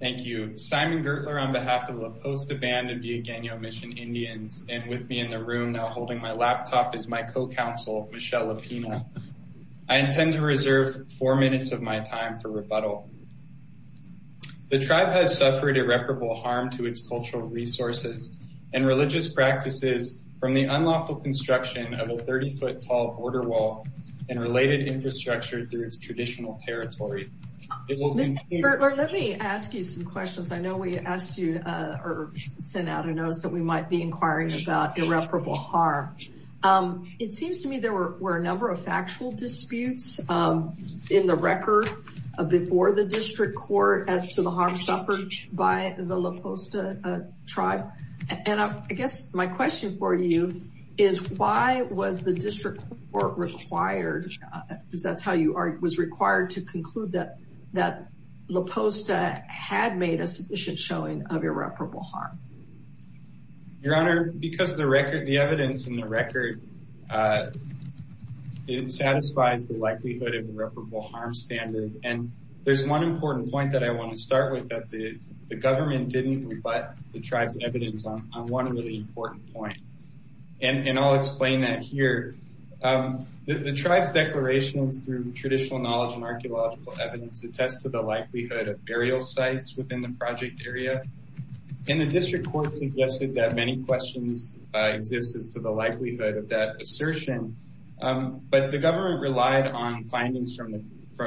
Thank you. Simon Gertler on behalf of the Posta Band of Villageno Mission Indians and with me in the room now holding my laptop is my co-counsel Michelle Lapina. I intend to reserve four minutes of my time for rebuttal. The tribe has suffered irreparable harm to its cultural resources and religious practices from the unlawful construction of a 30-foot tall border wall and related infrastructure through its traditional territory. Let me ask you some questions. I know we asked you or sent out a notice that we might be inquiring about irreparable harm. It seems to me there were a number of factual disputes in the record before the district court as to the harm suffered by the La Posta tribe and I guess my question for you is why was the district court required because that's how you are was required to conclude that that La Posta had made a sufficient showing of irreparable harm? Your Honor, because the record the evidence in the record it satisfies the likelihood of irreparable harm standard and there's one important point that I want to start with that the government didn't rebut the tribe's evidence on one really important point and I'll explain that here. The tribe's declarations through traditional knowledge and archaeological evidence attests to the likelihood of burial sites within the project area and the district court suggested that many questions exist as to the likelihood of that assertion but the government relied on findings from the,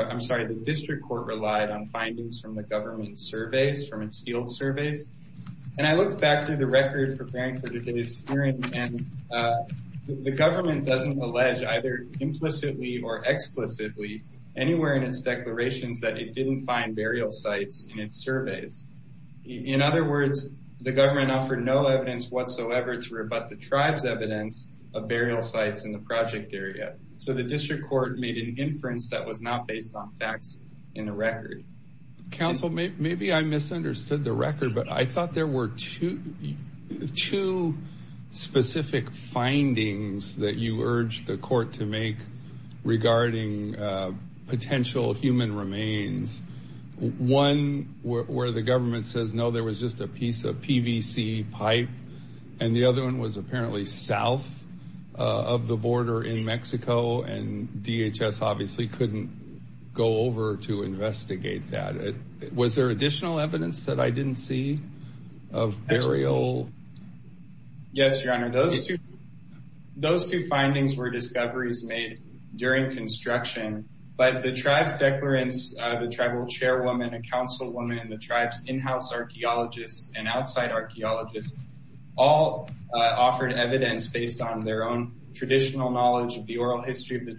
I'm sorry, the district court relied on findings from the government surveys from its field surveys and I looked back through the record preparing for today's hearing and the government doesn't allege either implicitly or explicitly anywhere in its declarations that it didn't find burial sites in its surveys. In other words, the government offered no evidence whatsoever to rebut the tribe's evidence of burial sites in the project area so the district court made an inference that was not based on facts in the maybe I misunderstood the record but I thought there were two specific findings that you urged the court to make regarding potential human remains. One where the government says no there was just a piece of PVC pipe and the other one was apparently south of the border in Mexico and DHS obviously couldn't go to investigate that. Was there additional evidence that I didn't see of burial? Yes, your honor, those two those two findings were discoveries made during construction but the tribe's declarants, the tribal chairwoman, a councilwoman, and the tribe's in-house archaeologists and outside archaeologists all offered evidence based on their own traditional knowledge of the oral history of the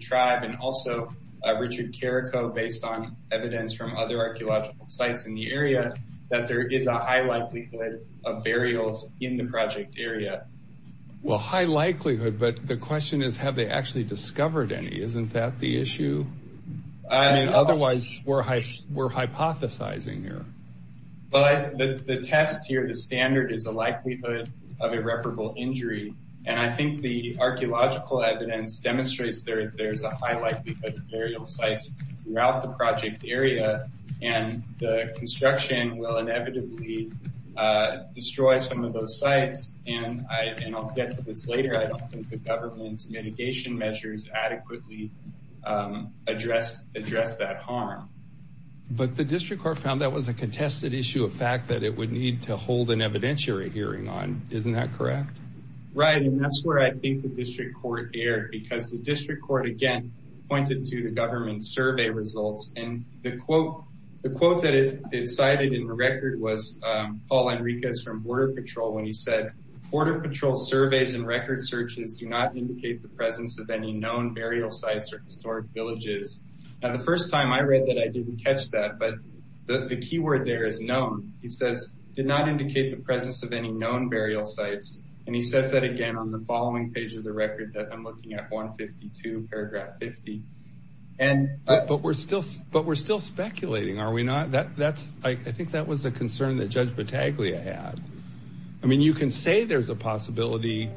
evidence from other archaeological sites in the area that there is a high likelihood of burials in the project area. Well high likelihood but the question is have they actually discovered any? Isn't that the issue? Otherwise we're hypothesizing here. But the test here, the standard, is a likelihood of irreparable injury and I think the archaeological evidence demonstrates there's a high likelihood of burial sites throughout the project area and the construction will inevitably destroy some of those sites and I'll get to this later, I don't think the government's mitigation measures adequately address address that harm. But the district court found that was a contested issue of fact that it would need to hold an evidentiary hearing on, isn't that correct? Right and that's where I think the district court erred because the district court again pointed to the government survey results and the quote the quote that it cited in the record was Paul Enriquez from Border Patrol when he said Border Patrol surveys and record searches do not indicate the presence of any known burial sites or historic villages. Now the first time I read that I didn't catch that but the key word there is known. He says did not indicate the presence of any known burial sites and he says that again on the following page of the record that I'm looking at 152 paragraph 50 and but we're still but we're still speculating are we not that that's I think that was a concern that Judge Battaglia had. I mean you can say there's a possibility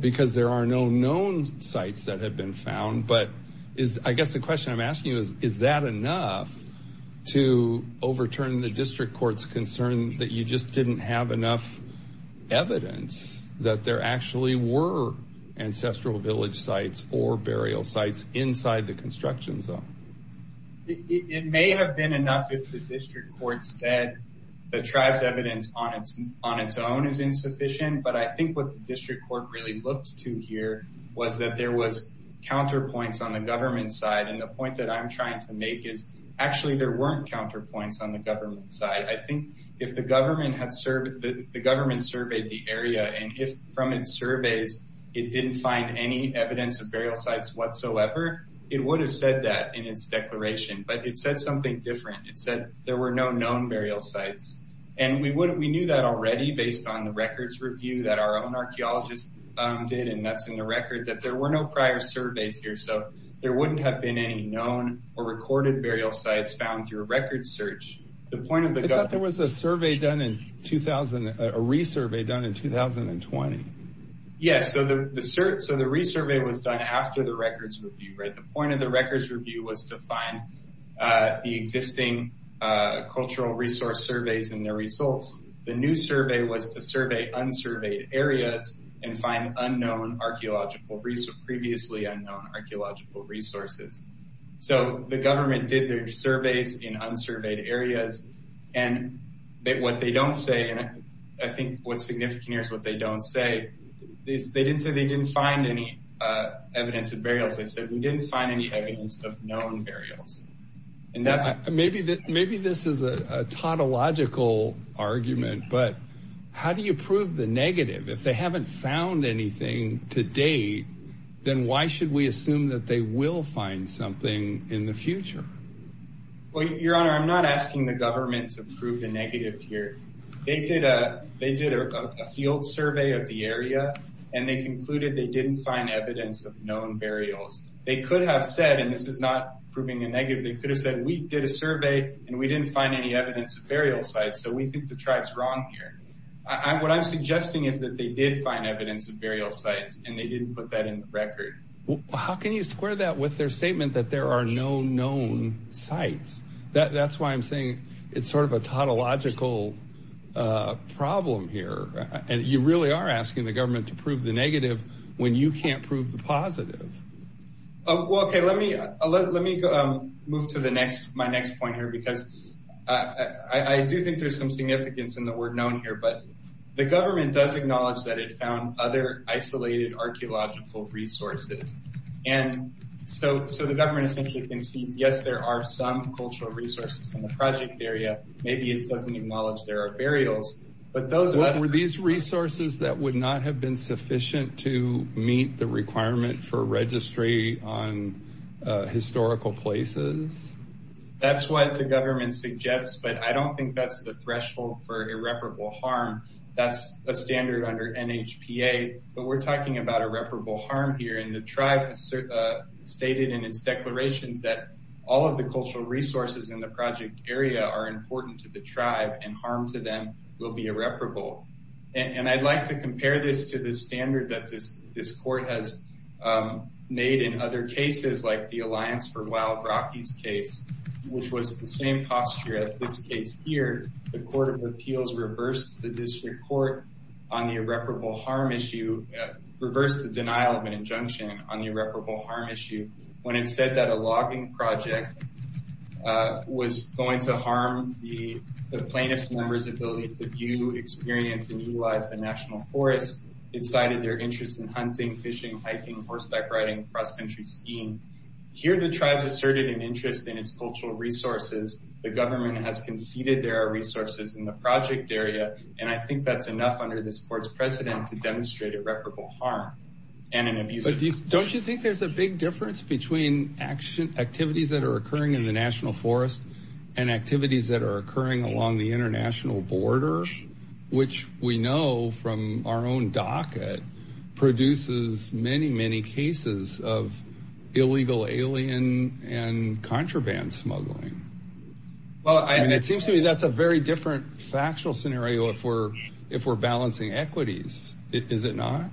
because there are no known sites that have been found but is I guess the question I'm asking you is is that enough to overturn the district court's concern that you just didn't have enough evidence that there actually were ancestral village sites or burial sites inside the construction zone? It may have been enough if the district court said the tribes evidence on its on its own is insufficient but I think what the district court really looks to here was that there was counterpoints on the government side and the point that I'm trying to make is actually there weren't counterpoints on the government side. I think if the government surveyed the area and if from its surveys it didn't find any evidence of burial sites whatsoever it would have said that in its declaration but it said something different. It said there were no known burial sites and we wouldn't we knew that already based on the records review that our own archaeologists did and that's in the record that there were no prior surveys here so there wouldn't have been any known or recorded burial sites found through a record search. The survey done in 2000 a resurvey done in 2020? Yes so the research so the resurvey was done after the records review right the point of the records review was to find the existing cultural resource surveys and their results. The new survey was to survey unsurveyed areas and find unknown archaeological research previously unknown archaeological resources. So the what they don't say and I think what's significant here is what they don't say they didn't say they didn't find any evidence of burials they said we didn't find any evidence of known burials and that's maybe that maybe this is a tautological argument but how do you prove the negative if they haven't found anything to date then why should we assume that they will find something in the future? Well your honor I'm not asking the government to prove the negative here they did a they did a field survey of the area and they concluded they didn't find evidence of known burials they could have said and this is not proving a negative they could have said we did a survey and we didn't find any evidence of burial sites so we think the tribes wrong here. What I'm suggesting is that they did find evidence of burial sites and they didn't put that in the record. How can you square that with their statement that there are no known sites that that's why I'm saying it's sort of a tautological problem here and you really are asking the government to prove the negative when you can't prove the positive. Okay let me let me move to the next my next point here because I do think there's some significance in the word known here but the government does acknowledge that it found other isolated archaeological resources and so so the government essentially concedes yes there are some cultural resources from the project area maybe it doesn't acknowledge there are burials but those what were these resources that would not have been sufficient to meet the requirement for registry on historical places? That's what the government suggests but I don't think that's the threshold for irreparable harm that's a standard under NHPA but we're talking about irreparable harm here and the tribe stated in its declarations that all of the cultural resources in the project area are important to the tribe and harm to them will be irreparable and I'd like to compare this to the standard that this this court has made in other cases like the Alliance for Wild Rockies case which was the same posture as this case here the Court of Appeals reversed the district court on the irreparable harm issue reversed the denial of an injunction on the irreparable harm issue when it said that a logging project was going to harm the the plaintiffs members ability to view experience and utilize the National Forest it cited their interest in hunting fishing hiking horseback riding cross-country skiing here the tribes asserted an interest in its cultural resources the government has conceded there are resources in the project area and I think that's enough under this court's precedent to demonstrate irreparable harm and an abuse but don't you think there's a big difference between action activities that are occurring in the National Forest and activities that are occurring along the international border which we know from our own docket produces many many cases of illegal alien and scenario for if we're balancing equities is it not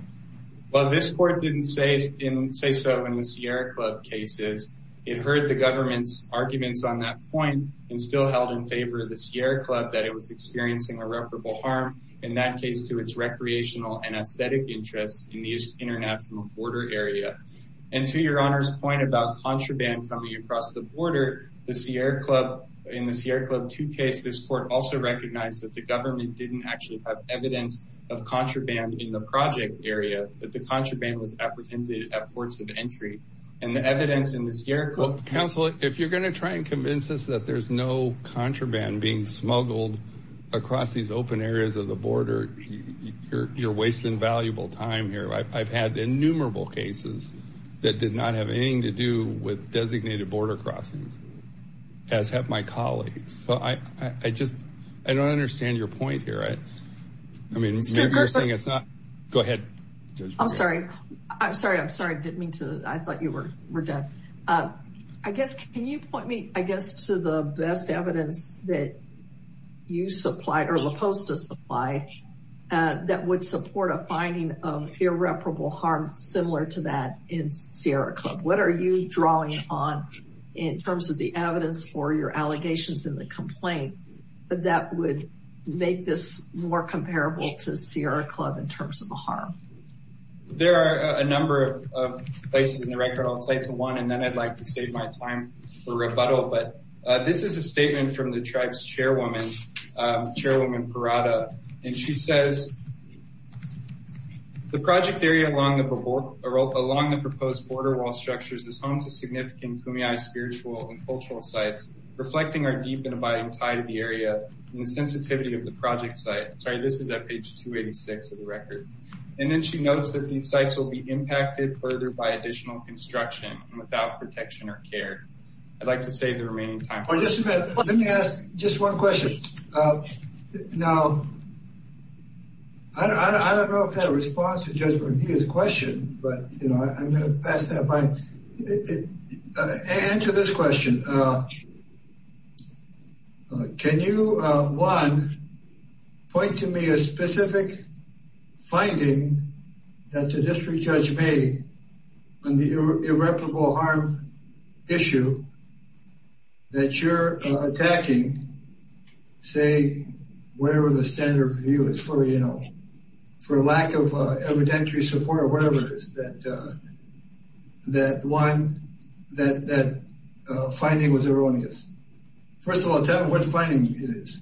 well this court didn't say in say so in the Sierra Club cases it heard the government's arguments on that point and still held in favor of the Sierra Club that it was experiencing irreparable harm in that case to its recreational and aesthetic interests in these international border area and to your honor's point about contraband coming across the border the Sierra Club in the Sierra Club to case this court also recognized that the government didn't actually have evidence of contraband in the project area that the contraband was apprehended at ports of entry and the evidence in the Sierra Club counsel if you're gonna try and convince us that there's no contraband being smuggled across these open areas of the border you're wasting valuable time here I've had innumerable cases that did not have anything to do with designated border crossings as have my colleagues so I I just I don't understand your point here right I mean it's not go ahead I'm sorry I'm sorry I'm sorry I didn't mean to I thought you were we're done I guess can you point me I guess to the best evidence that you supplied or the post a supply that would support a finding of irreparable harm similar to that in Sierra Club what are you drawing on in terms of the evidence or your allegations in the complaint that would make this more comparable to Sierra Club in terms of the harm there are a number of places in the record outside to one and then I'd like to save my time for rebuttal but this is a statement from the tribe's chairwoman chairwoman Parada and she says the project area along the board along the proposed border wall structures this significant Kumeyaay spiritual and cultural sites reflecting our deep and abiding tie to the area the sensitivity of the project site sorry this is at page 286 of the record and then she notes that these sites will be impacted further by additional construction without protection or care I'd like to save the remaining time let me ask just one question now I don't know if that responds to Judge McGee's question but you know I'm gonna pass that by answer this question can you one point to me a specific finding that the district judge made on the irreparable harm issue that you're attacking say wherever the evidentiary support or whatever it is that that one that that finding was erroneous first of all tell me what finding it is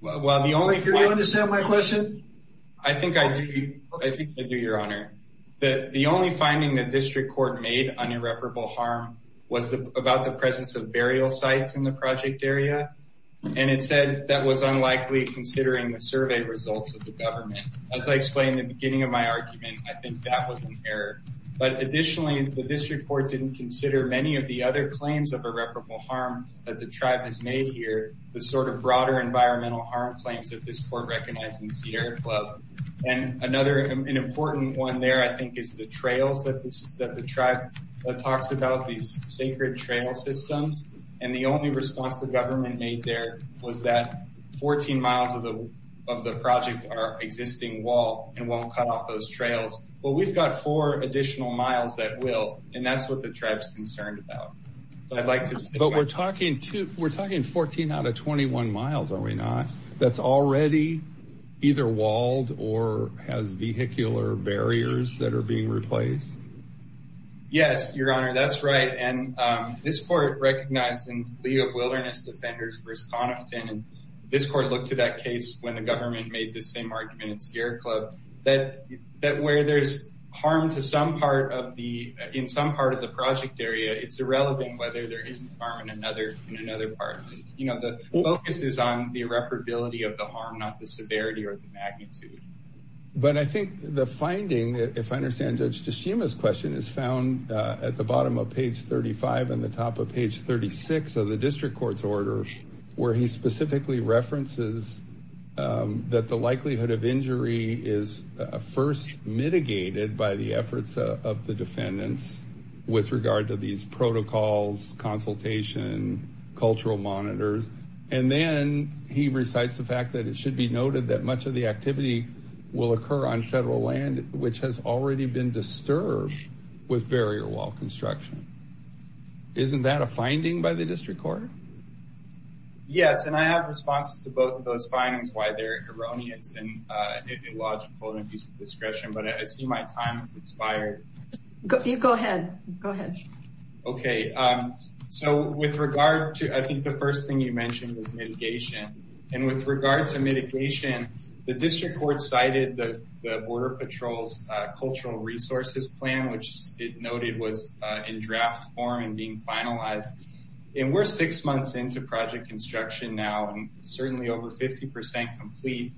well the only if you understand my question I think I do your honor that the only finding the district court made on irreparable harm was the about the presence of burial sites in the project area and it said that was unlikely considering the survey results as I explained the beginning of my argument I think that was an error but additionally the district court didn't consider many of the other claims of irreparable harm that the tribe has made here the sort of broader environmental harm claims that this court recognized in Sierra Club and another important one there I think is the trails that the tribe talks about these sacred trail systems and the only response the government made there was that 14 miles of the project our existing wall and won't cut off those trails well we've got four additional miles that will and that's what the tribes concerned about but I'd like to say but we're talking to we're talking 14 out of 21 miles are we not that's already either walled or has vehicular barriers that are being replaced yes your honor that's right and this court recognized in the of when the government made the same argument in Sierra Club that that where there's harm to some part of the in some part of the project area it's irrelevant whether there is harm in another in another part you know the focus is on the irreparability of the harm not the severity or the magnitude but I think the finding if I understand judge Tashima's question is found at the bottom of page 35 and the top of page 36 of the district court's order where he specifically references that the likelihood of injury is first mitigated by the efforts of the defendants with regard to these protocols consultation cultural monitors and then he recites the fact that it should be noted that much of the activity will occur on federal land which has already been disturbed with barrier wall construction isn't that a finding by the district court yes and I have responses to both of those findings why they're erroneous and ideological and abuse of discretion but I see my time expired go ahead go ahead okay so with regard to I think the first thing you mentioned is mitigation and with regard to mitigation the district court cited the Border Patrol's cultural resources plan which it noted was in draft form and being finalized and we're six months into project construction now and certainly over 50% complete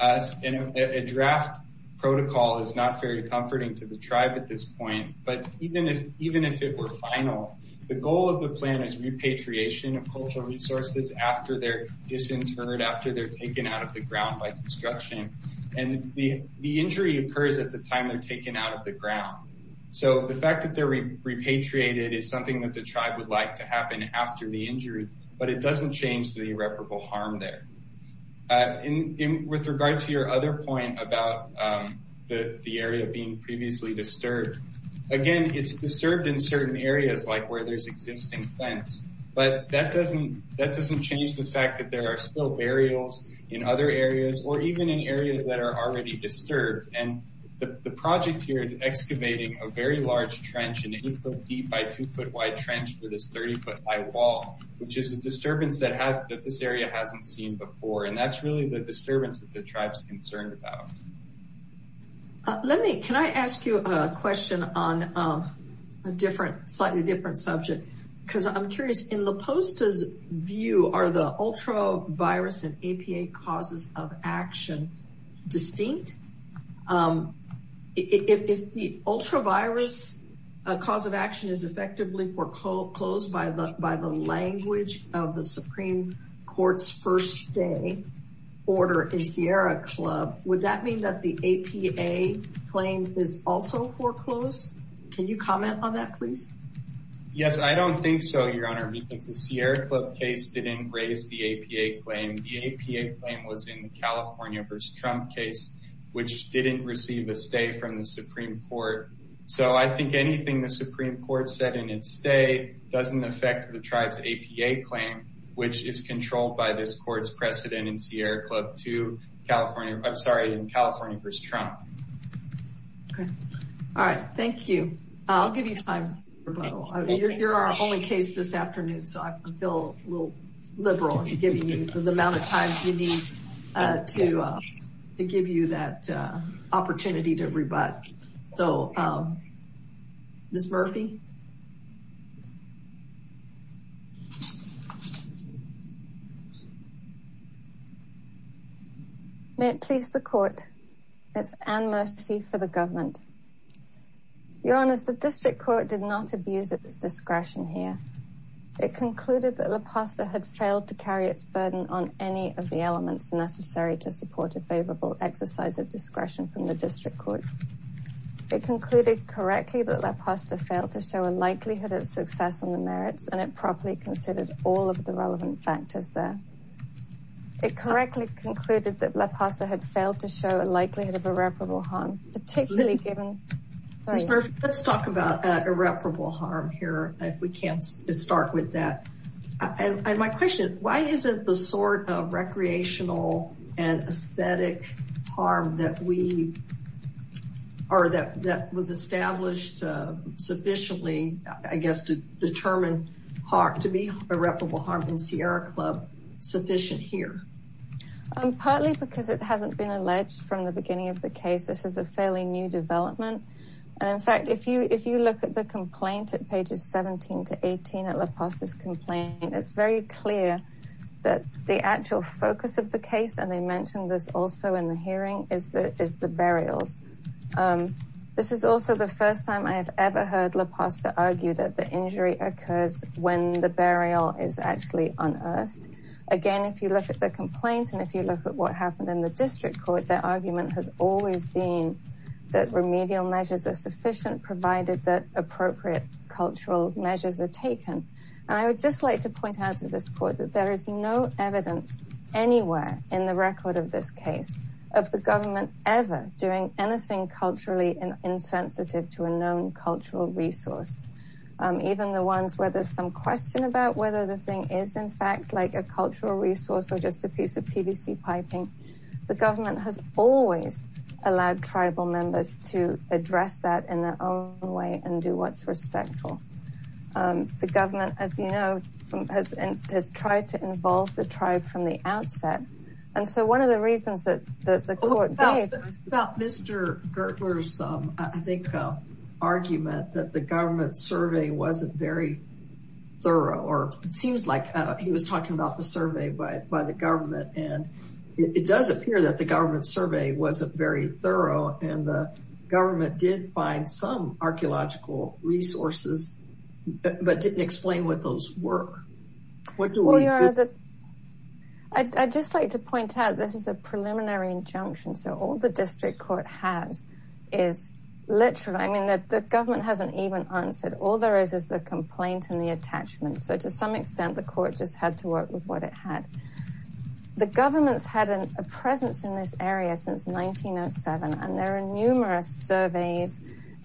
us in a draft protocol is not very comforting to the tribe at this point but even if even if it were final the goal of the plan is repatriation of cultural resources after they're disinterred after they're taken out of the ground by construction and the injury occurs at the time they're taken out of the ground so the fact that they're repatriated is something that the tribe would like to happen after the injury but it doesn't change the irreparable harm there in with regard to your other point about the the area of being previously disturbed again it's disturbed in certain areas like where there's existing fence but that doesn't that doesn't change the fact that there are still burials in other areas or even in areas that are already disturbed and the project here is excavating a very large trench and it would go deep by foot wide trench for this 30 foot high wall which is a disturbance that has that this area hasn't seen before and that's really the disturbance that the tribes concerned about let me can I ask you a question on a different slightly different subject because I'm curious in the post as view are the ultra virus and closed by the by the language of the Supreme Court's first day order in Sierra Club would that mean that the APA claim is also foreclosed can you comment on that please yes I don't think so your honor because the Sierra Club case didn't raise the APA claim the APA claim was in the California vs. Trump case which didn't receive a stay from the Supreme Court so I think anything the state doesn't affect the tribes APA claim which is controlled by this court's precedent in Sierra Club to California I'm sorry in California vs. Trump all right thank you I'll give you time you're our only case this afternoon so I feel a little liberal giving you the amount of time you need to give you that opportunity to rebut so miss Murphy may it please the court it's an mercy for the government your honor's the district court did not abuse at this discretion here it concluded that la pasta had failed to carry its burden on any of the elements necessary to support a favorable exercise of discretion from the district court it concluded correctly that la pasta failed to show a likelihood of success on the merits and it properly considered all of the relevant factors there it correctly concluded that la pasta had failed to show a likelihood of irreparable harm particularly given let's talk about irreparable harm here if we can't start with that and my question why is it the sort of recreational and aesthetic harm that we are that that was established sufficiently I guess to determine heart to be irreparable harm in Sierra Club sufficient here I'm partly because it hasn't been alleged from the beginning of the case this is a fairly new development and in fact if you if you look at the complaint at pages 17 to 18 at la pasta's complaint it's very clear that the actual focus of the case and they mentioned this also in the hearing is that is the burials this is also the first time I have ever heard la pasta argued that the injury occurs when the burial is actually unearthed again if you look at the complaints and if you look at what happened in the district court their argument has always been that remedial measures are sufficient provided that appropriate cultural measures are taken and I would just like to point out to this court that there is no evidence anywhere in the record of this case of the government ever doing anything culturally and insensitive to a known cultural resource even the ones where there's some question about whether the thing is in fact like a cultural resource or just a piece of PVC piping the government has always allowed tribal members to address that in their own way and do what's respectful the government as you know from has and has tried to involve the tribe from the outset and so one of the reasons that the court about mr. Gertler's I think argument that the government survey wasn't very thorough or it seems like he was talking about the survey by the government and it does appear that the government survey wasn't very thorough and the government did find some archaeological resources but didn't explain what those were what do we are the I just like to point out this is a preliminary injunction so all the district court has is literally I mean that the government hasn't even answered all there is is the complaint and the attachment so to some extent the court just had to work with what it had the government's had an a presence in this since 1907 and there are numerous surveys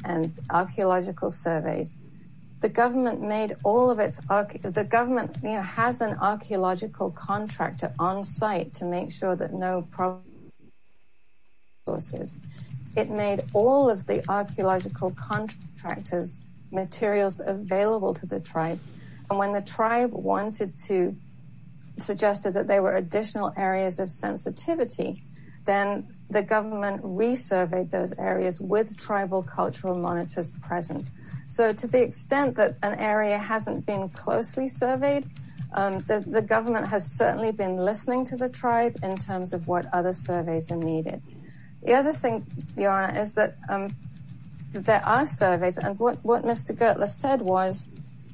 and archaeological surveys the government made all of its arc the government has an archaeological contractor on-site to make sure that no problem horses it made all of the archaeological contractors materials available to the tribe and when the tribe wanted to suggested that they were additional areas of sensitivity then the government resurveyed those areas with tribal cultural monitors present so to the extent that an area hasn't been closely surveyed the government has certainly been listening to the tribe in terms of what other surveys are needed the other thing the honor is that there are surveys and what what mr. Gertler said was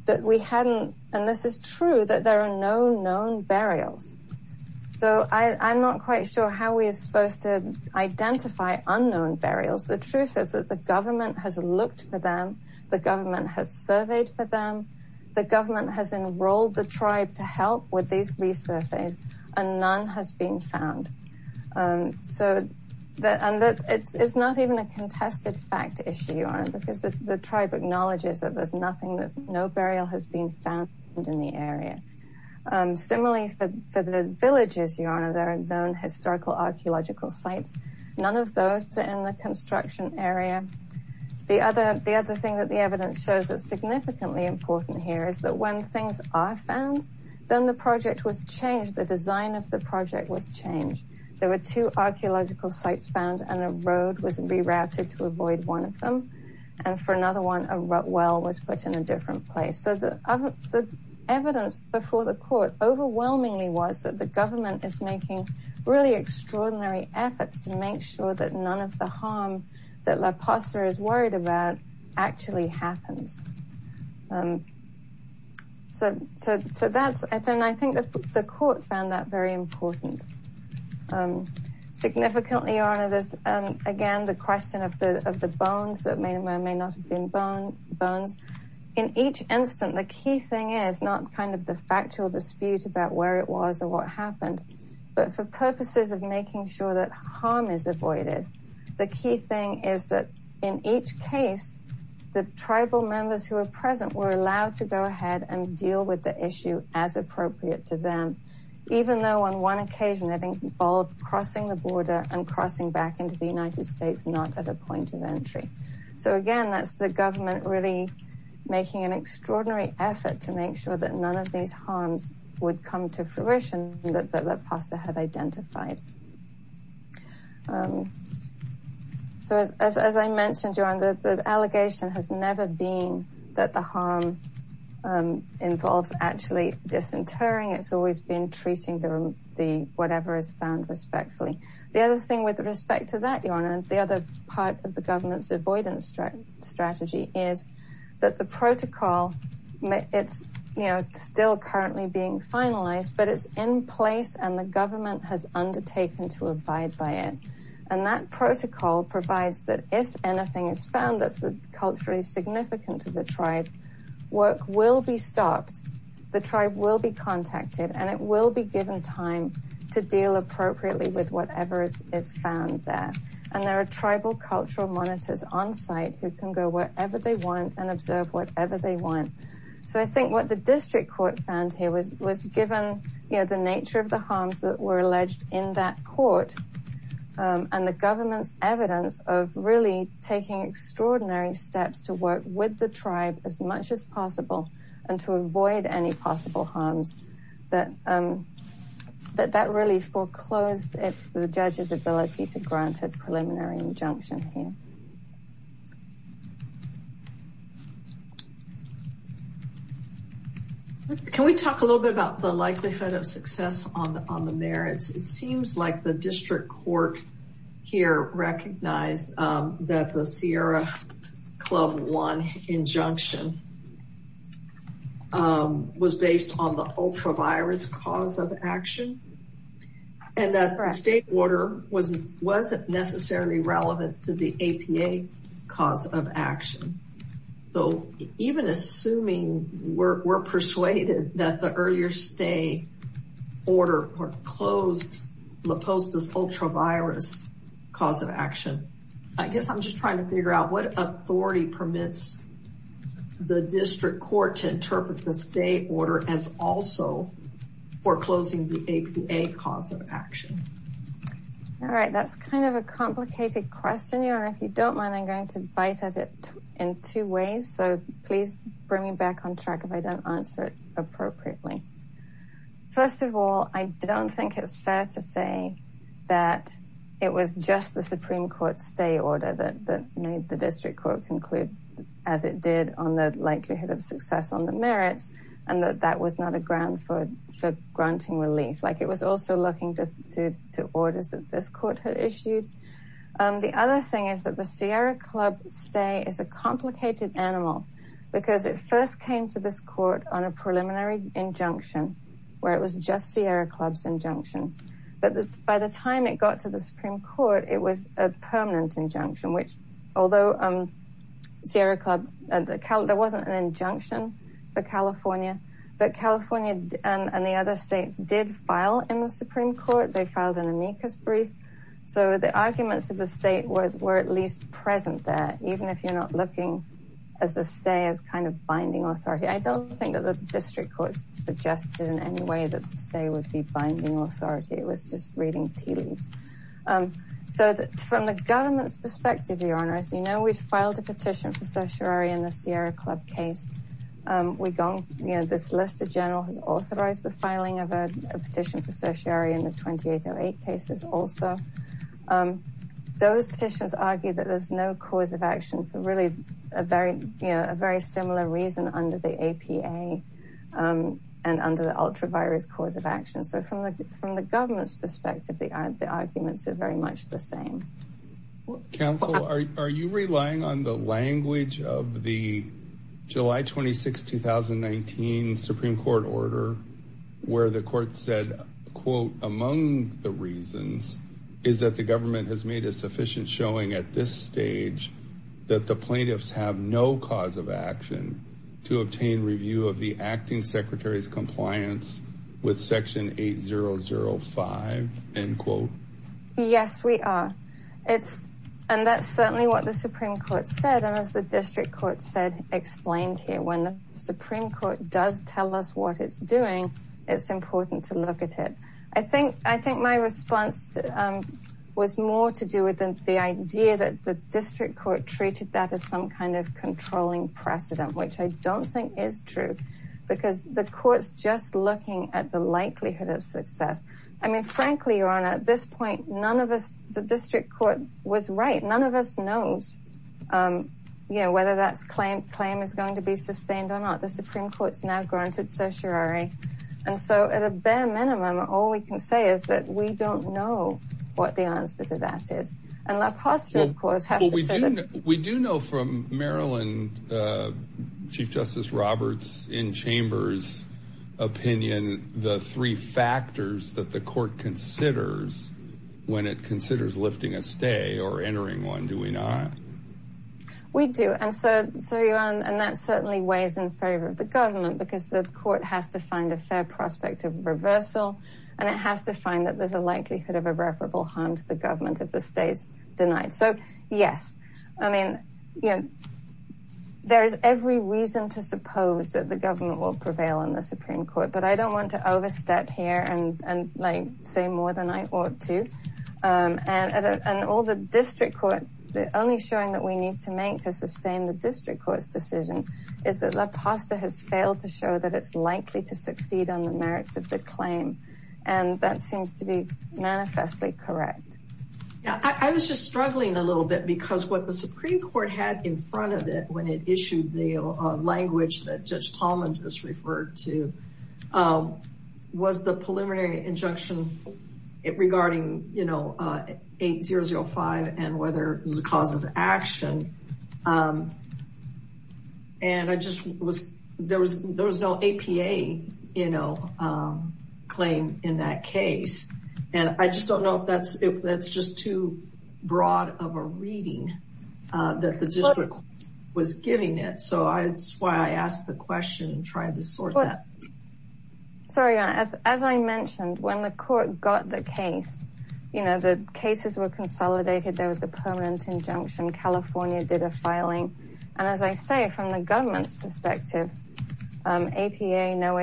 that we hadn't and this is true that there are no known burials so I I'm not quite sure how we are supposed to identify unknown burials the truth is that the government has looked for them the government has surveyed for them the government has enrolled the tribe to help with these resurfaces and none has been found so that and that it's it's not even a contested fact issue because the tribe acknowledges that there's no burial has been found in the area similarly for the villages you honor their known historical archaeological sites none of those two in the construction area the other the other thing that the evidence shows that significantly important here is that when things are found then the project was changed the design of the project was changed there were two archaeological sites found and a road was rerouted to avoid one of them and for another one of well was put in a different place so the evidence before the court overwhelmingly was that the government is making really extraordinary efforts to make sure that none of the harm that La Paz sir is worried about actually happens so so so that's and then I think that the court found that very important significantly honor this again the question of the of the bones that may not have been bone bones in each instant the key thing is not kind of the factual dispute about where it was or what happened but for purposes of making sure that harm is avoided the key thing is that in each case the tribal members who are present were allowed to go ahead and deal with the issue as appropriate to them even though on one occasion I think bald crossing the border and so again that's the government really making an extraordinary effort to make sure that none of these harms would come to fruition that the pasta have identified so as I mentioned you're under the allegation has never been that the harm involves actually disinterring it's always been treating them the whatever is found respectfully the other thing with respect to that you're on and the other part of the government's avoidance strategy strategy is that the protocol it's you know still currently being finalized but it's in place and the government has undertaken to abide by it and that protocol provides that if anything is found that's the culturally significant to the tribe work will be stopped the tribe will be contacted and it will be given time to deal appropriately with whatever is found there and there are tribal cultural monitors on site who can go wherever they want and observe whatever they want so I think what the district court found here was was given you know the nature of the harms that were alleged in that court and the government's evidence of really taking extraordinary steps to work with the tribe as much as possible and to avoid any possible harms that that that really foreclosed it's the judge's ability to granted preliminary injunction here can we talk a little bit about the likelihood of success on the merits it seems like the district court here recognized that the Sierra Club one injunction was based on the ultravirus cause of action and that state order wasn't wasn't necessarily relevant to the APA cause of action so even assuming we're persuaded that the cause of action I guess I'm just trying to figure out what authority permits the district court to interpret the state order as also foreclosing the APA cause of action all right that's kind of a complicated question you know if you don't mind I'm going to bite at it in two ways so please bring me back on track if I don't answer it appropriately first of all I don't think it's fair to say that it was just the Supreme Court stay order that made the district court conclude as it did on the likelihood of success on the merits and that that was not a ground for granting relief like it was also looking to orders that this court had issued the other thing is that the Sierra Club stay is a complicated animal because it first came to this court on a preliminary injunction where it was just Sierra Club's injunction but by the time it got to the Supreme Court it was a permanent injunction which although Sierra Club and the count there wasn't an injunction for California but California and the other states did file in the Supreme Court they filed an amicus brief so the arguments of the state was were at least present there even if you're not looking as the stay as kind of binding authority I don't think that the district courts suggested in any way that they would be binding authority it was just reading tea leaves so that from the government's perspective your honor as you know we filed a petition for certiorari in the Sierra Club case we gone you know this list of general has authorized the filing of a petition for certiorari in the 2808 cases also those petitions argue that there's no cause of action really a very you know a very similar reason under the APA and under the ultra virus cause of action so from the from the government's perspective they aren't the arguments are very much the same counsel are you relying on the language of the July 26 2019 Supreme Court order where the court said quote among the reasons is that the government has made a sufficient showing at this age that the plaintiffs have no cause of action to obtain review of the acting secretary's compliance with section 8005 and quote yes we are it's and that's certainly what the Supreme Court said as the district court said explained here when the Supreme Court does tell us what it's doing it's important to look at it I think I think my response was more to do with them the idea that the district court treated that as some kind of controlling precedent which I don't think is true because the courts just looking at the likelihood of success I mean frankly your honor at this point none of us the district court was right none of us knows you know whether that's claimed claim is going to be sustained or not the Supreme Court's now granted certiorari and so at a bare minimum all we can say is that we don't know what the answer to that is and LaPoste of course we do know from Maryland Chief Justice Roberts in chambers opinion the three factors that the court considers when it considers lifting a stay or entering one do we not we do and so and that certainly weighs in favor of the has to find that there's a likelihood of irreparable harm to the government of the stays denied so yes I mean you know there is every reason to suppose that the government will prevail on the Supreme Court but I don't want to overstep here and and like say more than I ought to and and all the district court the only showing that we need to make to sustain the district courts decision is that LaPoste has failed to show that it's likely to succeed on the claim and that seems to be manifestly correct yeah I was just struggling a little bit because what the Supreme Court had in front of it when it issued the language that Judge Talman just referred to was the preliminary injunction it regarding you know 8005 and whether the cause of action and I claim in that case and I just don't know if that's if that's just too broad of a reading that the district was giving it so I it's why I asked the question and tried to sort that sorry as I mentioned when the court got the case you know the cases were consolidated there was a permanent injunction California did a filing and as I say from the government's perspective APA no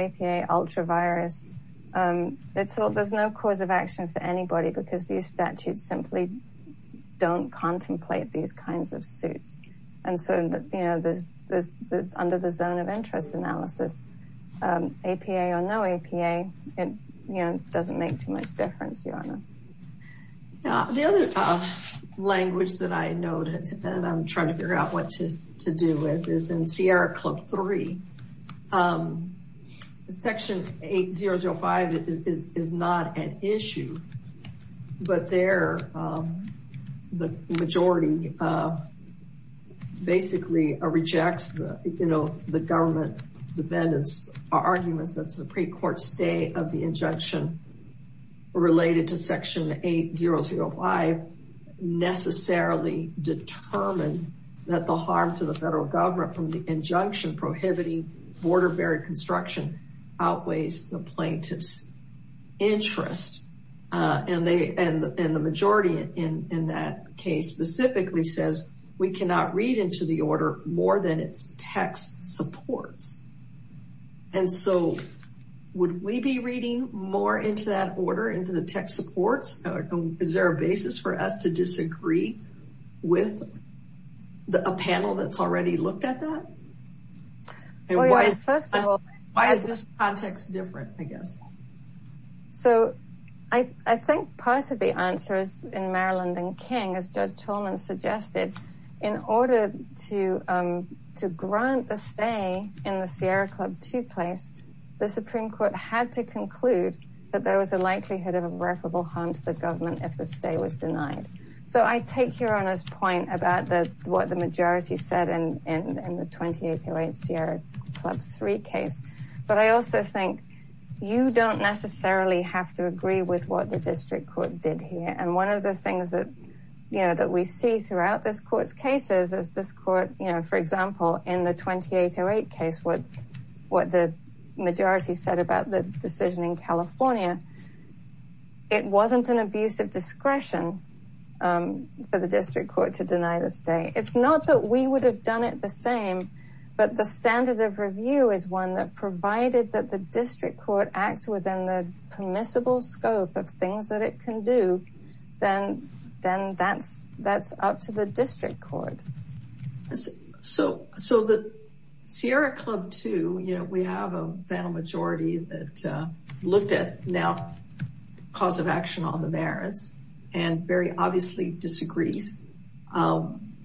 it's all there's no cause of action for anybody because these statutes simply don't contemplate these kinds of suits and so you know there's this under the zone of interest analysis APA or no APA it you know doesn't make too much difference your honor the other language that I noted and I'm trying to figure out what to do with is in Sierra Club 3 section 8005 is not an issue but there the majority basically rejects you know the government defendants arguments that's the pre-court stay of the injunction related to section 8005 necessarily determined that the harm to the federal government from the injunction prohibiting border barrier construction outweighs the plaintiff's interest and they and the majority in in that case specifically says we cannot read into the order more than its text supports and so would we be reading more into that order into the text supports is there a basis for us to disagree with the panel that's already looked at that and why is this context different I guess so I think part of the answer is in Maryland and King as Judge Cholman suggested in order to to grant the stay in the Sierra Club to place the Supreme Court had to conclude that there was a likelihood of irreparable harm to the government if the stay was denied so I take your honor's point about the what the majority said and in the 2808 Sierra Club 3 case but I also think you don't necessarily have to agree with what the district court did here and one of the things that you know that we see throughout this courts cases as this you know for example in the 2808 case what what the majority said about the decision in California it wasn't an abuse of discretion for the district court to deny the stay it's not that we would have done it the same but the standard of review is one that provided that the district court acts within the permissible scope of things that it can do then then that's that's up to the so so the Sierra Club to you know we have a battle majority that looked at now cause of action on the merits and very obviously disagrees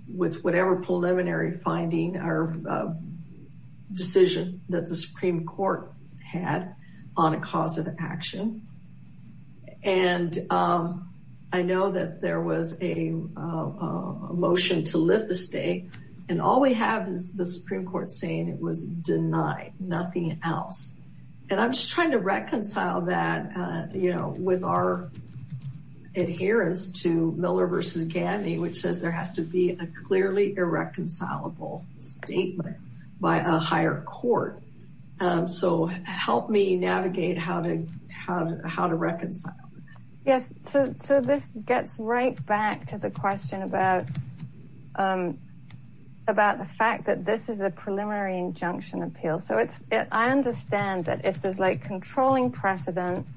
with whatever preliminary finding our decision that the Supreme Court had on a cause of and all we have is the Supreme Court saying it was denied nothing else and I'm just trying to reconcile that you know with our adherence to Miller versus Gandy which says there has to be a clearly irreconcilable statement by a higher court so help me navigate how to how to how to reconcile yes so this gets right back to the question about about the fact that this is a preliminary injunction appeal so it's I understand that if there's like controlling precedent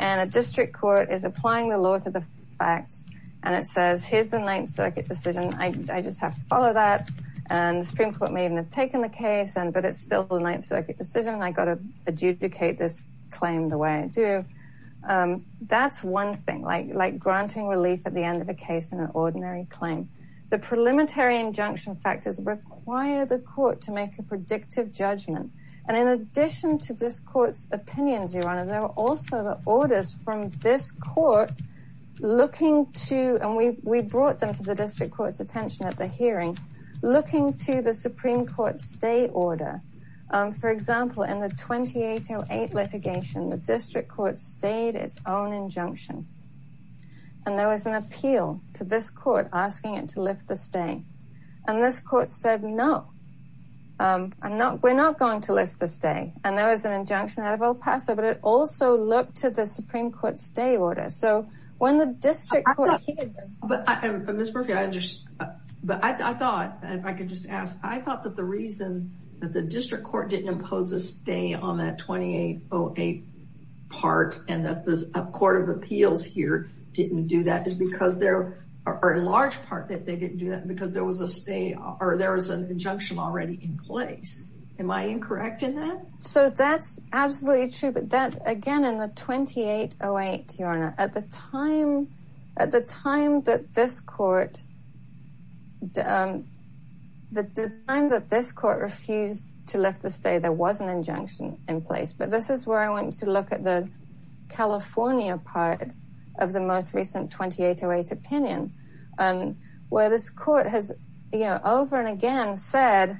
and a district court is applying the law to the facts and it says here's the Ninth Circuit decision I just have to follow that and the Supreme Court may even have taken the case and but it's still the Ninth Circuit decision I got to adjudicate this claim the way I do that's one thing like granting relief at the end of a case in an ordinary claim the preliminary injunction factors require the court to make a predictive judgment and in addition to this courts opinions your honor there are also the orders from this court looking to and we brought them to the district courts attention at the hearing looking to the Supreme Court stay order for example in the 2808 litigation the district court stayed its own injunction and there was an appeal to this court asking it to lift the stay and this court said no I'm not we're not going to lift this day and there was an injunction out of El Paso but it also looked to the Supreme Court stay order so when the district but I just but I thought I could just ask I thought that the reason that the on that 2808 part and that this Court of Appeals here didn't do that is because there are in large part that they didn't do that because there was a stay or there was an injunction already in place am I incorrect in that so that's absolutely true but that again in the 2808 your honor at the time at the time that this court the time that this court refused to lift the stay there was an injunction in place but this is where I want to look at the California part of the most recent 2808 opinion and where this court has you know over and again said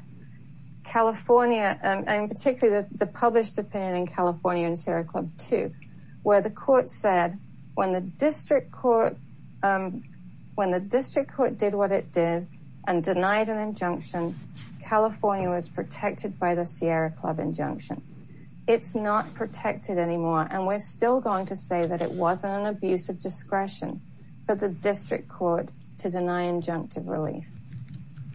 California and particularly the published opinion in California and Sierra Club to where the court said when the district court when the district court did what it did and denied an injunction California was protected by the Sierra Club injunction it's not protected anymore and we're still going to say that it wasn't an abuse of discretion but the district court to deny injunctive relief.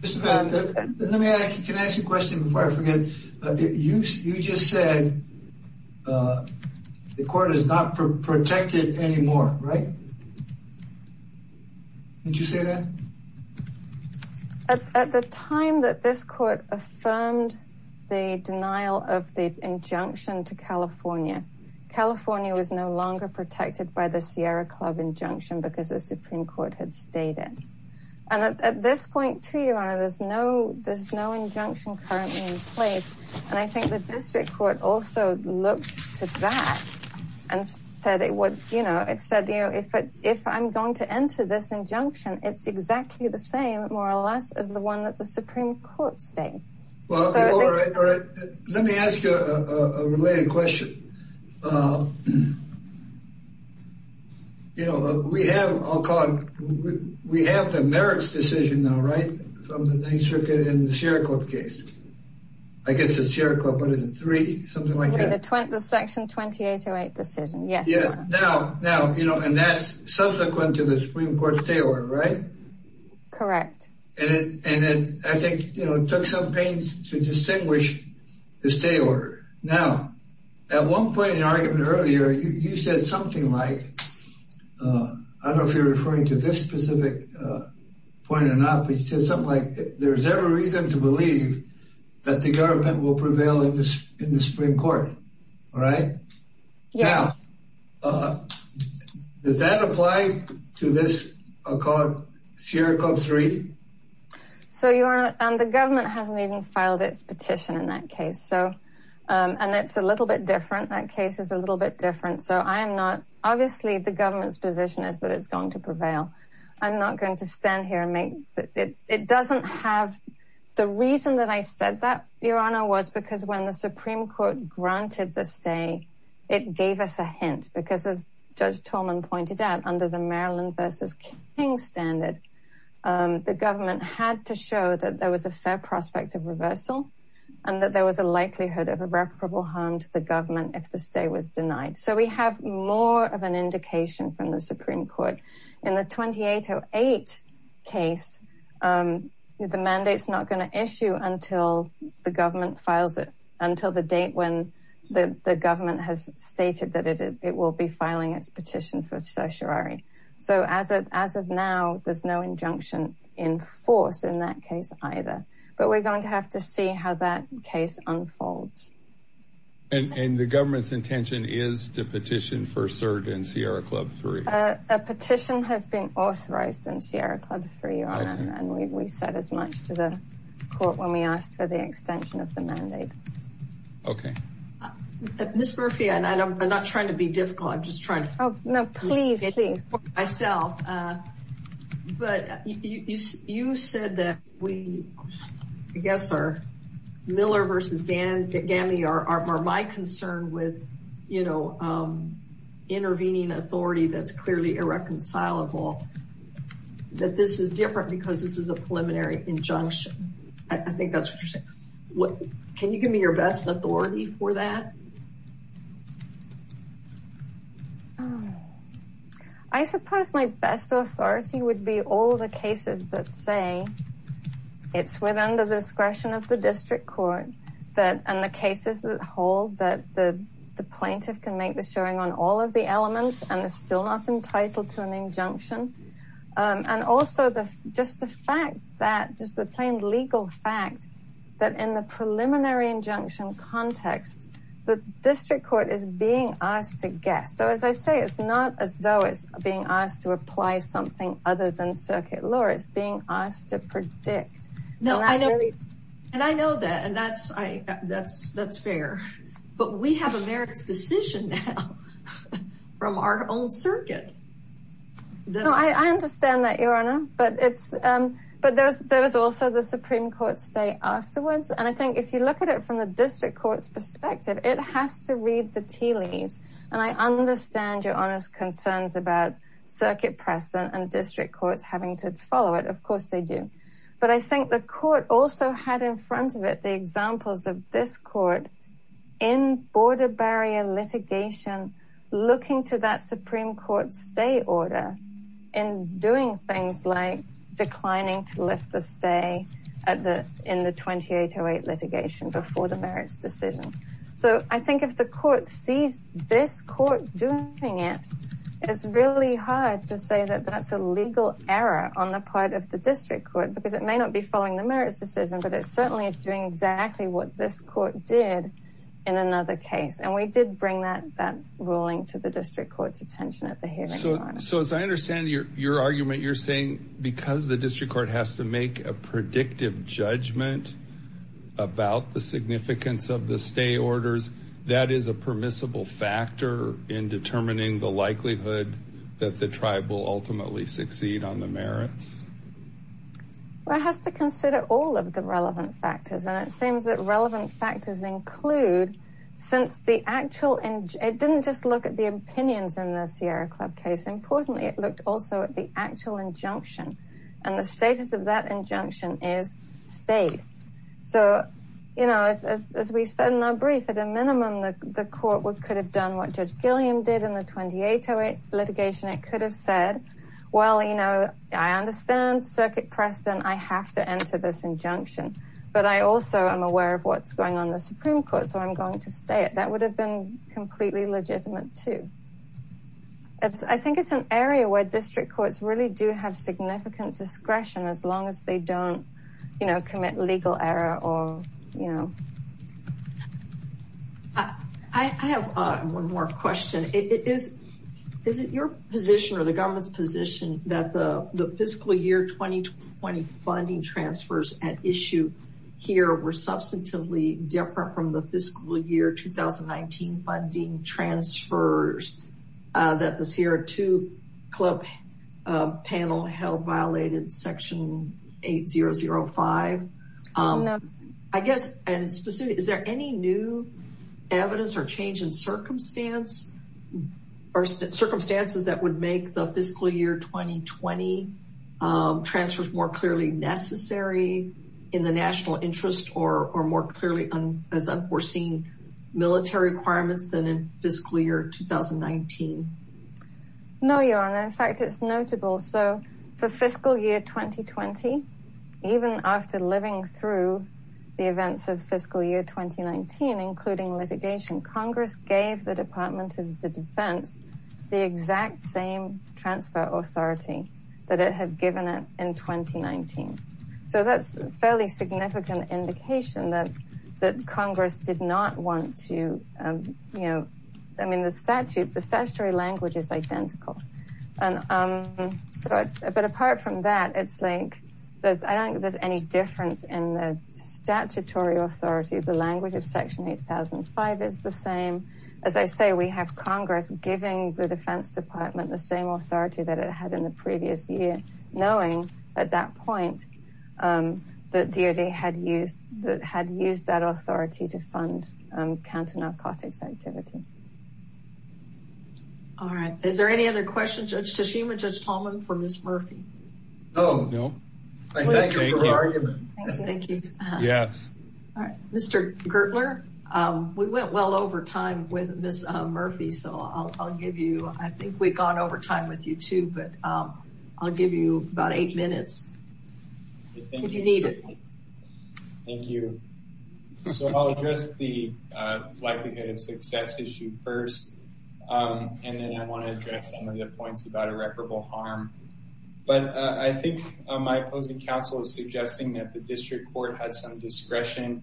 Mr. Pat, can I ask you a question before I forget? You just said the court is not protected anymore right? Did you say that? At the time that this court affirmed the denial of the injunction to California, California was no longer protected by the Sierra Club injunction because the Supreme Court had stayed in and at this point to you honor there's no there's no injunction currently in place and I think the district court also looked to that and said it would you know it said you know if it if I'm going to enter this injunction it's exactly the same more or less as the one that the Supreme Court stayed. Let me ask you a related question. You know we have, I'll call it, we have the merits decision now right from the 9th Circuit in the Sierra Club case. I guess it's Sierra Club but isn't three something like that. The section 2808 decision yes. Yes now now you know and that's subsequent to the Supreme Court stay order right? Correct. And it and then I think you know it took some pains to distinguish the stay order. Now at one point in argument earlier you said something like I don't know if you're referring to this specific point or not but you said something like there's every reason to believe that the government will prevail in this in the Does that apply to this Sierra Club 3? So your honor the government hasn't even filed its petition in that case so and it's a little bit different that case is a little bit different so I am not obviously the government's position is that it's going to prevail. I'm not going to stand here and make it it doesn't have the reason that I said that your honor was because when the Supreme Court granted the stay it gave us a hint because as Judge Tolman pointed out under the Maryland versus King standard the government had to show that there was a fair prospect of reversal and that there was a likelihood of irreparable harm to the government if the stay was denied. So we have more of an indication from the Supreme Court in the 2808 case the mandates not going to issue until the government files it until the date when the government has stated that it it will be filing its petition for certiorari so as it as of now there's no injunction in force in that case either but we're going to have to see how that case unfolds. And the government's intention is to petition for cert in Sierra Club 3? A petition has been authorized in Sierra Club 3 and we said as much to the court when we asked for the extension of the mandate. Okay Miss Murphy and I know I'm not trying to be difficult I'm just trying to help no please I sell but you said that we I guess our Miller versus Gammy are my concern with you know intervening authority that's clearly irreconcilable that this is different because this is a preliminary injunction I think that's what what can you give me your best authority for that? I suppose my best authority would be all the cases that say it's within the discretion of the district court that and the cases that hold that the plaintiff can make the on all of the elements and is still not entitled to an injunction and also the just the fact that just the plain legal fact that in the preliminary injunction context the district court is being asked to guess so as I say it's not as though it's being asked to apply something other than circuit law it's being asked to predict. No I know and I know that and that's I that's that's fair but we have a merits decision now from our own circuit. I understand that your honor but it's but there's there's also the Supreme Court stay afterwards and I think if you look at it from the district courts perspective it has to read the tea leaves and I understand your honors concerns about circuit precedent and district courts having to follow it of course they do but I think the court also had in front of it the examples of this court in border barrier litigation looking to that Supreme Court stay order in doing things like declining to lift the stay at the in the 2808 litigation before the merits decision so I think if the court sees this court doing it it's really hard to say that that's a legal error on the part of the district court because it may not be following the merits decision but it certainly is doing exactly what this court did in another case and we did bring that that ruling to the district courts attention at the hearing. So as I understand your argument you're saying because the district court has to make a predictive judgment about the significance of the stay orders that is a permissible factor in determining the likelihood that the tribe will ultimately succeed on the just to consider all of the relevant factors and it seems that relevant factors include since the actual and it didn't just look at the opinions in the Sierra Club case importantly it looked also at the actual injunction and the status of that injunction is state so you know as we said in our brief at a minimum that the court would could have done what Judge Gilliam did in the 2808 litigation it could have said well you know I understand circuit precedent I have to enter this injunction but I also am aware of what's going on the Supreme Court so I'm going to stay it that would have been completely legitimate too. I think it's an area where district courts really do have significant discretion as long as they don't you know commit legal error or you know. I have one more question it is is it your position or the government's that the the fiscal year 2020 funding transfers at issue here were substantively different from the fiscal year 2019 funding transfers that the Sierra Club panel held violated section 8005 I guess and specific is there any new evidence or change in circumstance or circumstances that would make the fiscal year 2020 transfers more clearly necessary in the national interest or more clearly as unforeseen military requirements than in fiscal year 2019. No your honor in fact it's notable so for fiscal year 2020 even after living through the events of fiscal year 2019 including litigation Congress gave the authority that it had given it in 2019 so that's fairly significant indication that that Congress did not want to you know I mean the statute the statutory language is identical and so it's a bit apart from that it's like there's I don't think there's any difference in the statutory authority the language of section 8005 is the same as I say we have Congress giving the Defense Department the same authority that it had in the previous year knowing at that point that DOD had used that had used that authority to fund counter narcotics activity. All right is there any other questions Judge Tashima, Judge Tolman for Ms. Murphy? No. Thank you. Mr. Gertler we went well over time with Ms. Murphy so I'll give you I think we've gone over time with you too but I'll give you about eight minutes if you need it. Thank you. So I'll address the likelihood of success issue first and then I want to address some of the points about irreparable harm but I think my opposing counsel is suggesting that the district court has some discretion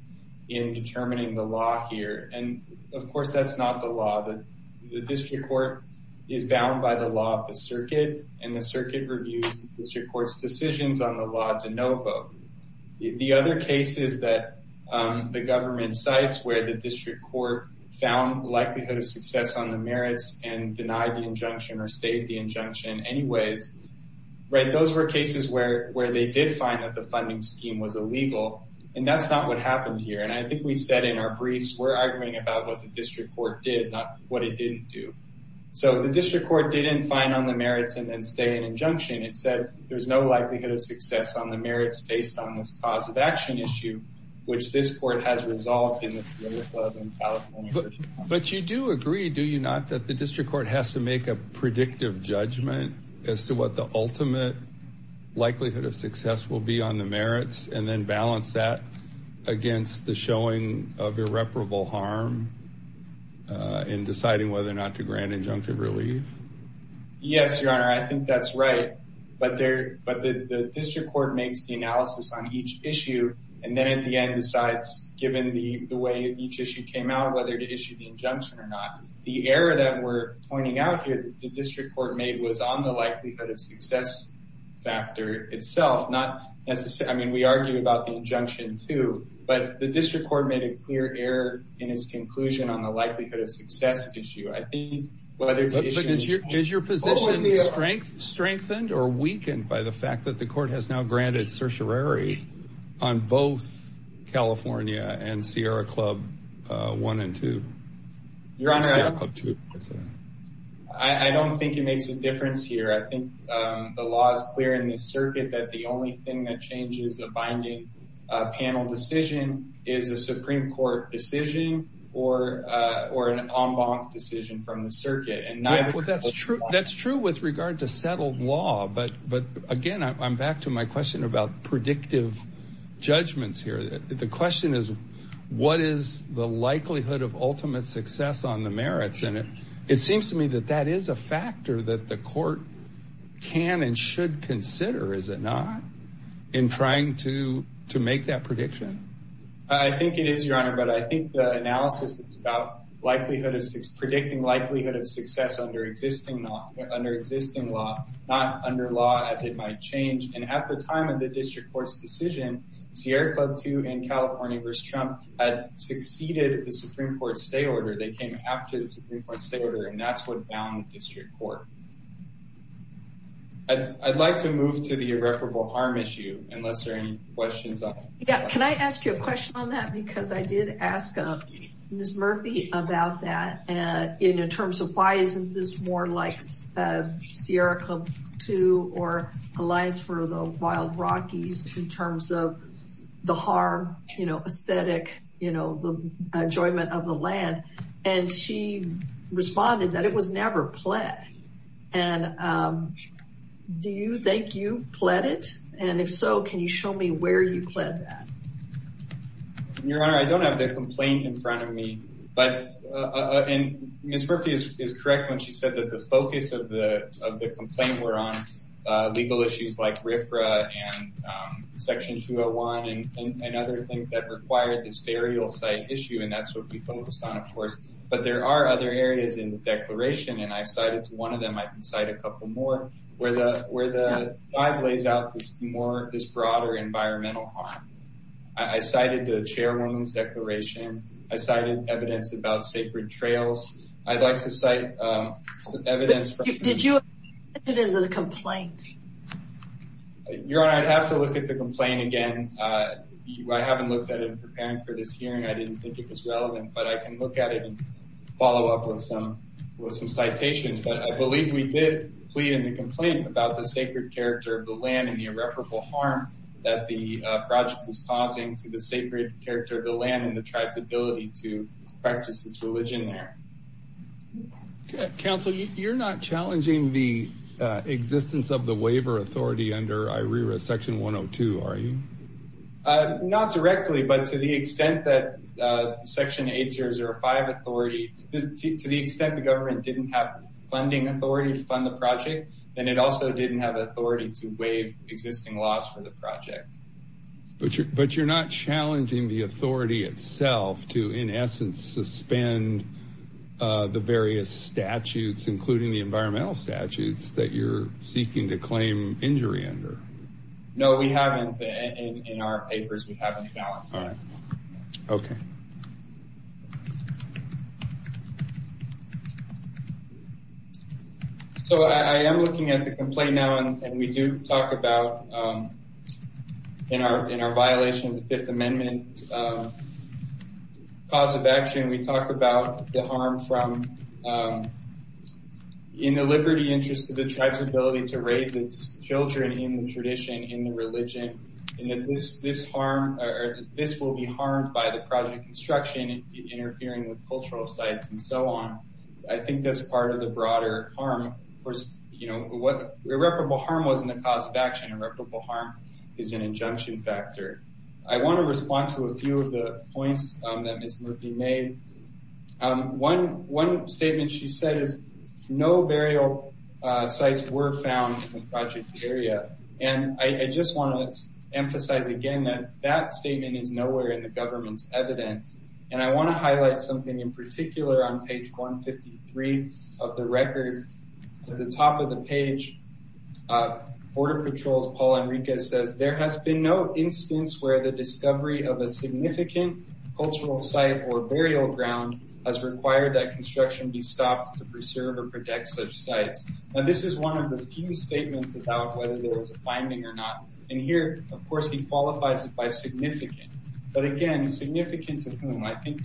in determining the law here and of course that's not the law that the district court is bound by the law of the circuit and the circuit reviews which records decisions on the law to no vote. The other cases that the government cites where the district court found likelihood of success on the merits and denied the injunction or stayed the injunction anyways right those were cases where where they did find that the funding scheme was illegal and that's not what happened here and I think we said in our briefs we're arguing about what the district court did not what it didn't do. So the district court didn't find on the merits and then stay an injunction it said there's no likelihood of success on the merits based on this cause of action issue which this court has resolved. But you do agree do you not that the district court has to make a predictive judgment as to what the ultimate likelihood of success will be on the merits and then balance that against the showing of irreparable harm in deciding whether or not to grant injunctive relief? Yes your honor I think that's right but there but the district court makes the analysis on each issue and then at the end decides given the the way each issue came out whether to issue the injunction or not the error that we're pointing out here the district court made was on the likelihood of success factor itself not necessary I mean we argue about the but the district court made a clear error in its conclusion on the likelihood of success issue I think whether to issue the injunction. Is your position strengthened or weakened by the fact that the court has now granted certiorari on both California and Sierra Club one and two? Your honor I don't think it makes a difference here I think the law is clear in this circuit that the only thing that changes a binding panel decision is a Supreme Court decision or or an en banc decision from the circuit. Well that's true that's true with regard to settled law but but again I'm back to my question about predictive judgments here the question is what is the likelihood of ultimate success on the merits and it it seems to me that that is a factor that the court can and should consider is it not in trying to to make that prediction I think it is your honor but I think the analysis it's about likelihood of six predicting likelihood of success under existing law under existing law not under law as it might change and at the time of the district court's decision Sierra Club two and California versus Trump had succeeded the Supreme Court stay order they came after the Supreme Court stay order and that's what bound district court. I'd like to move to the irreparable harm issue unless there any questions. Yeah can I ask you a question on that because I did ask Miss Murphy about that and in terms of why isn't this more like Sierra Club two or Alliance for the Wild Rockies in terms of the harm you know aesthetic you know the enjoyment of the land and she responded that it was never pled and do you think you pled it and if so can you show me where you pled that. Your honor I don't have the complaint in front of me but and Miss Murphy is correct when she said that the focus of the of the complaint were on legal issues like RFRA and section 201 and other things that required this burial site issue and that's what we focused on of course but there are other areas in the declaration and I've cited one of them I can cite a couple more where the where the five lays out this more this broader environmental harm. I cited the chairwoman's declaration I cited evidence about sacred trails I'd like to cite evidence. Did you look at the complaint? Your honor I'd have to look at the complaint again I haven't looked at it preparing for this hearing I didn't think it was relevant but I can look at it and follow up with some with some citations but I believe we did plead in the complaint about the sacred character of the land and the irreparable harm that the project is causing to the sacred character of the land and the tribes ability to practice its religion there. Counsel you're not challenging the existence of the waiver authority under IRERA section 102 are you? Not directly but to the extent that section 8005 authority to the extent the government didn't have funding authority to fund the project then it also didn't have authority to waive existing laws for the project. But you're not challenging the authority itself to in essence suspend the various statutes including the environmental statutes that you're seeking to claim injury under? No we haven't in our papers we haven't found. Okay so I am looking at the complaint now and we do talk about in our in our violation of the Fifth Amendment cause of action we talked about the harm from in the liberty interest to the tribes ability to raise its children in the tradition in the religion and that this this harm this will be harmed by the project construction interfering with cultural sites and so on. I think that's part of the broader harm of course you know what irreparable harm wasn't a cause of action irreparable harm is an injunction factor. I want to respond to a few of the points that Ms. Murphy made. One statement she said is no burial sites were found in the project area and I just want to emphasize again that that statement is nowhere in the government's evidence and I want to highlight something in particular on page 153 of the record at the top of the page Border Patrol's Paul Enriquez says there has been no instance where the discovery of a significant cultural site or burial ground has required that construction be stopped to preserve or protect such sites and this is one of the few statements about whether there was a finding or not and here of course he qualifies it by significant but again significant to whom I think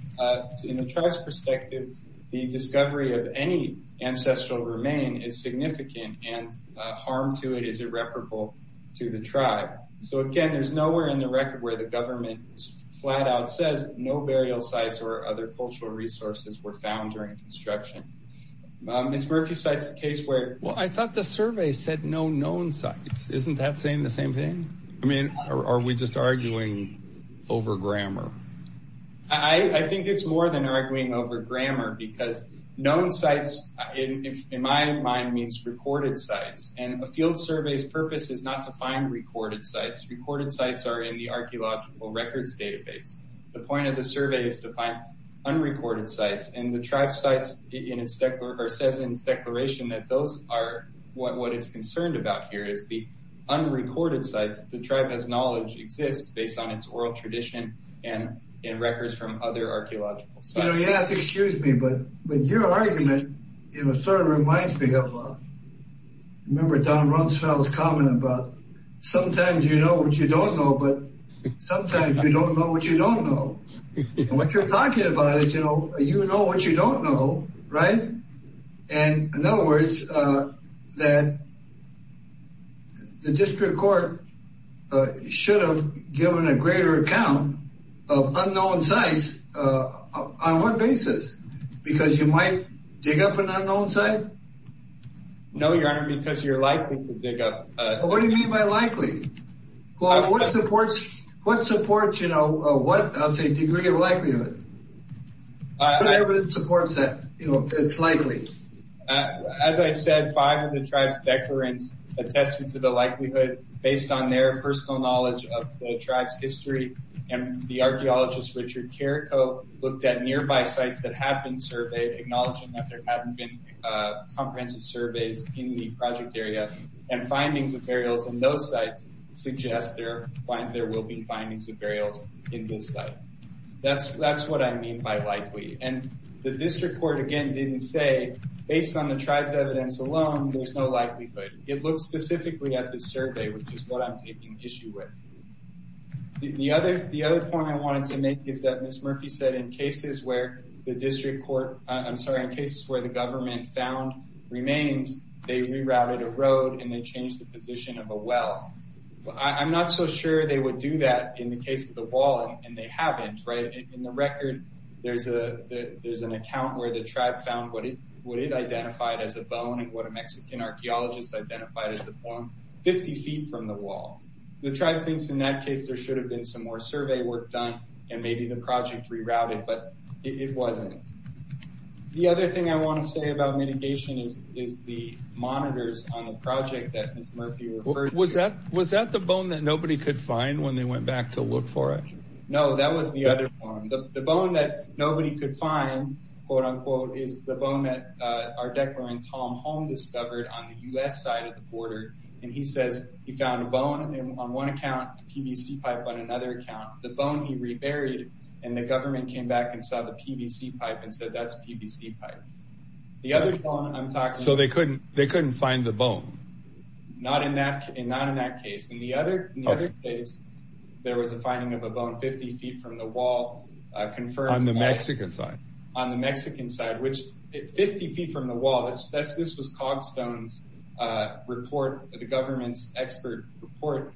in the tribe's perspective the discovery of any ancestral remain is significant and harm to it is irreparable to the tribe so again there's nowhere in the record where the government is flat out says no burial sites or other cultural resources were found during construction. Ms. Murphy cites a case where well I thought the survey said no known sites isn't that saying the same thing? I mean are we just arguing over grammar? I think it's more than arguing over grammar because known sites in my mind means recorded sites and a field survey's purpose is not to find recorded sites recorded sites are in the archaeological records database the point of the survey is to find unrecorded sites and the tribe sites in its declaration that those are what what is concerned about here is the unrecorded sites the tribe has knowledge exists based on its oral tradition and in records from other archaeological sites. You know you have to excuse me but but your argument you know sort of reminds me of remember Don Rumsfeld's sometimes you know what you don't know but sometimes you don't know what you don't know what you're talking about is you know you know what you don't know right and in other words that the district court should have given a greater account of unknown sites on what basis because you might dig up an What do you mean by likely? What supports you know what degree of likelihood? Whatever supports that you know it's likely. As I said five of the tribes declarants attested to the likelihood based on their personal knowledge of the tribe's history and the archaeologist Richard Carrico looked at nearby sites that have been surveyed acknowledging that there haven't been comprehensive surveys in the project area and findings of burials in those sites suggest there will be findings of burials in this site. That's what I mean by likely and the district court again didn't say based on the tribes evidence alone there's no likelihood. It looks specifically at the survey which is what I'm taking issue with. The other point I wanted to make is that Miss Murphy said in cases where the district remains they rerouted a road and they changed the position of a well. I'm not so sure they would do that in the case of the wall and they haven't right in the record there's a there's an account where the tribe found what it identified as a bone and what a Mexican archaeologist identified as the bone 50 feet from the wall. The tribe thinks in that case there should have been some more survey work done and maybe the project rerouted but it wasn't. The other thing I want to say about mitigation is is the monitors on the project that was that was that the bone that nobody could find when they went back to look for it? No that was the other one. The bone that nobody could find quote-unquote is the bone that our declarant Tom Holm discovered on the US side of the border and he says he found a bone on one account PVC pipe on another account the bone he reburied and the government came back and saw the PVC pipe and said that's PVC pipe. So they couldn't they couldn't find the bone? Not in that in that in that case. In the other case there was a finding of a bone 50 feet from the wall. On the Mexican side? On the Mexican side which 50 feet from the wall that's this was Cogstone's report the government's expert report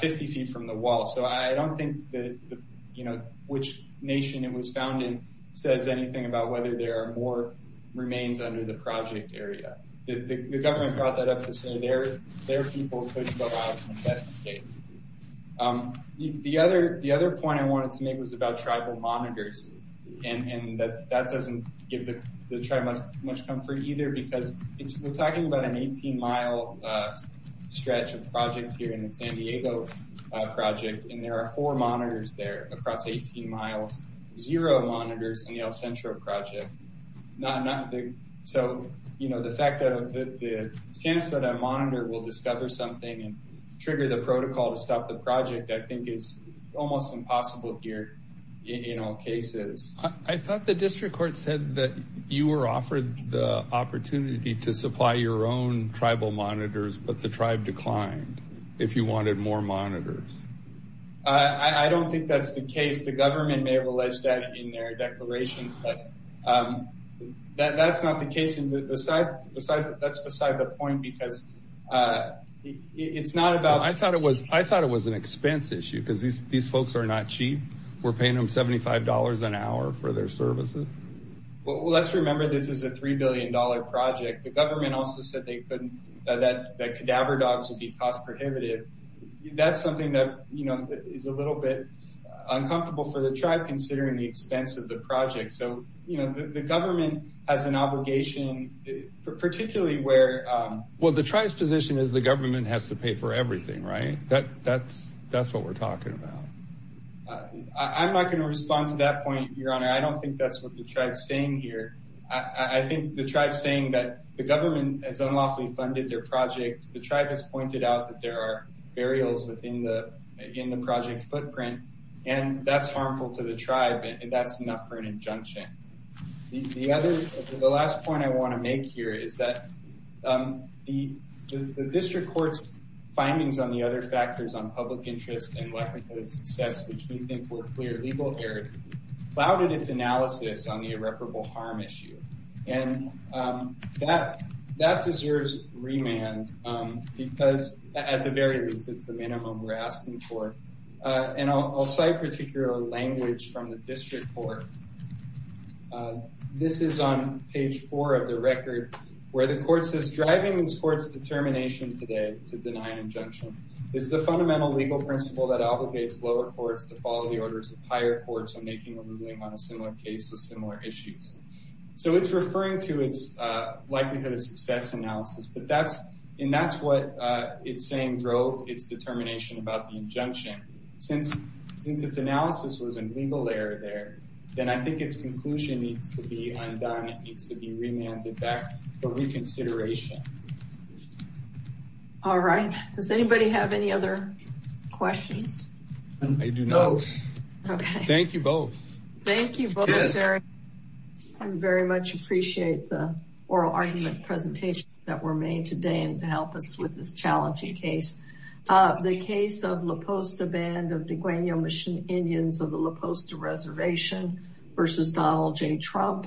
50 feet from the wall so I don't think that you know which nation it was founded says anything about whether there are more remains under the project area. The government brought that up to say their people couldn't go out in that state. The other the other point I wanted to make was about tribal monitors and that that doesn't give the tribe much comfort either because it's we're talking about an 18 mile stretch of project here in the San Diego project and there are four monitors there across 18 miles zero monitors in the El Centro project not nothing so you know the fact that the chance that a monitor will discover something and trigger the protocol to stop the project I think is almost impossible here in all cases. I thought the district court said that you were offered the opportunity to supply your own tribal monitors but the tribe declined if you wanted more monitors. I don't think that's the case the government may have alleged that in their declarations but that's not the case and besides that's beside the point because it's not about I thought it was I thought it was an expense issue because these these folks are not cheap we're paying them $75 an hour for their services. Well let's remember this is a three billion dollar project the government also said they couldn't that that cadaver dogs would be cost prohibitive that's something that you know is a little bit uncomfortable for the tribe considering the expense of the project so you know the government has an obligation particularly where well the tribe's position is the government has to pay for everything right that that's that's what we're talking about. I'm not going to respond to that point your honor I don't think that's what the tribe saying here I think the tribe saying that the government has unlawfully funded their project the tribe has pointed out that there are burials within the in the project footprint and that's harmful to the tribe and that's enough for an injunction the other the last point I want to make here is that the district courts findings on the other factors on public interest and lack of success which we think were clear legal errors clouded its analysis on the irreparable harm issue and that that deserves remand because at the very least it's the minimum we're asking for and I'll cite particular language from the district court this is on page four of the record where the court says driving these courts determination today to deny an injunction is the fundamental legal principle that obligates lower courts to follow the orders of higher courts on a similar case with similar issues so it's referring to its likelihood of success analysis but that's and that's what it's saying drove its determination about the injunction since since its analysis was a legal error there then I think its conclusion needs to be undone it needs to be remanded back for reconsideration all right does anybody have any other questions I do know thank you both thank you I'm very much appreciate the oral argument presentation that were made today and to help us with this challenging case the case of LaPosta band of the guano mission Indians of the LaPosta reservation versus Donald J Trump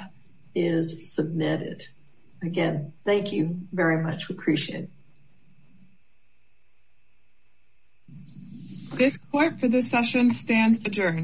is submitted again thank you very much we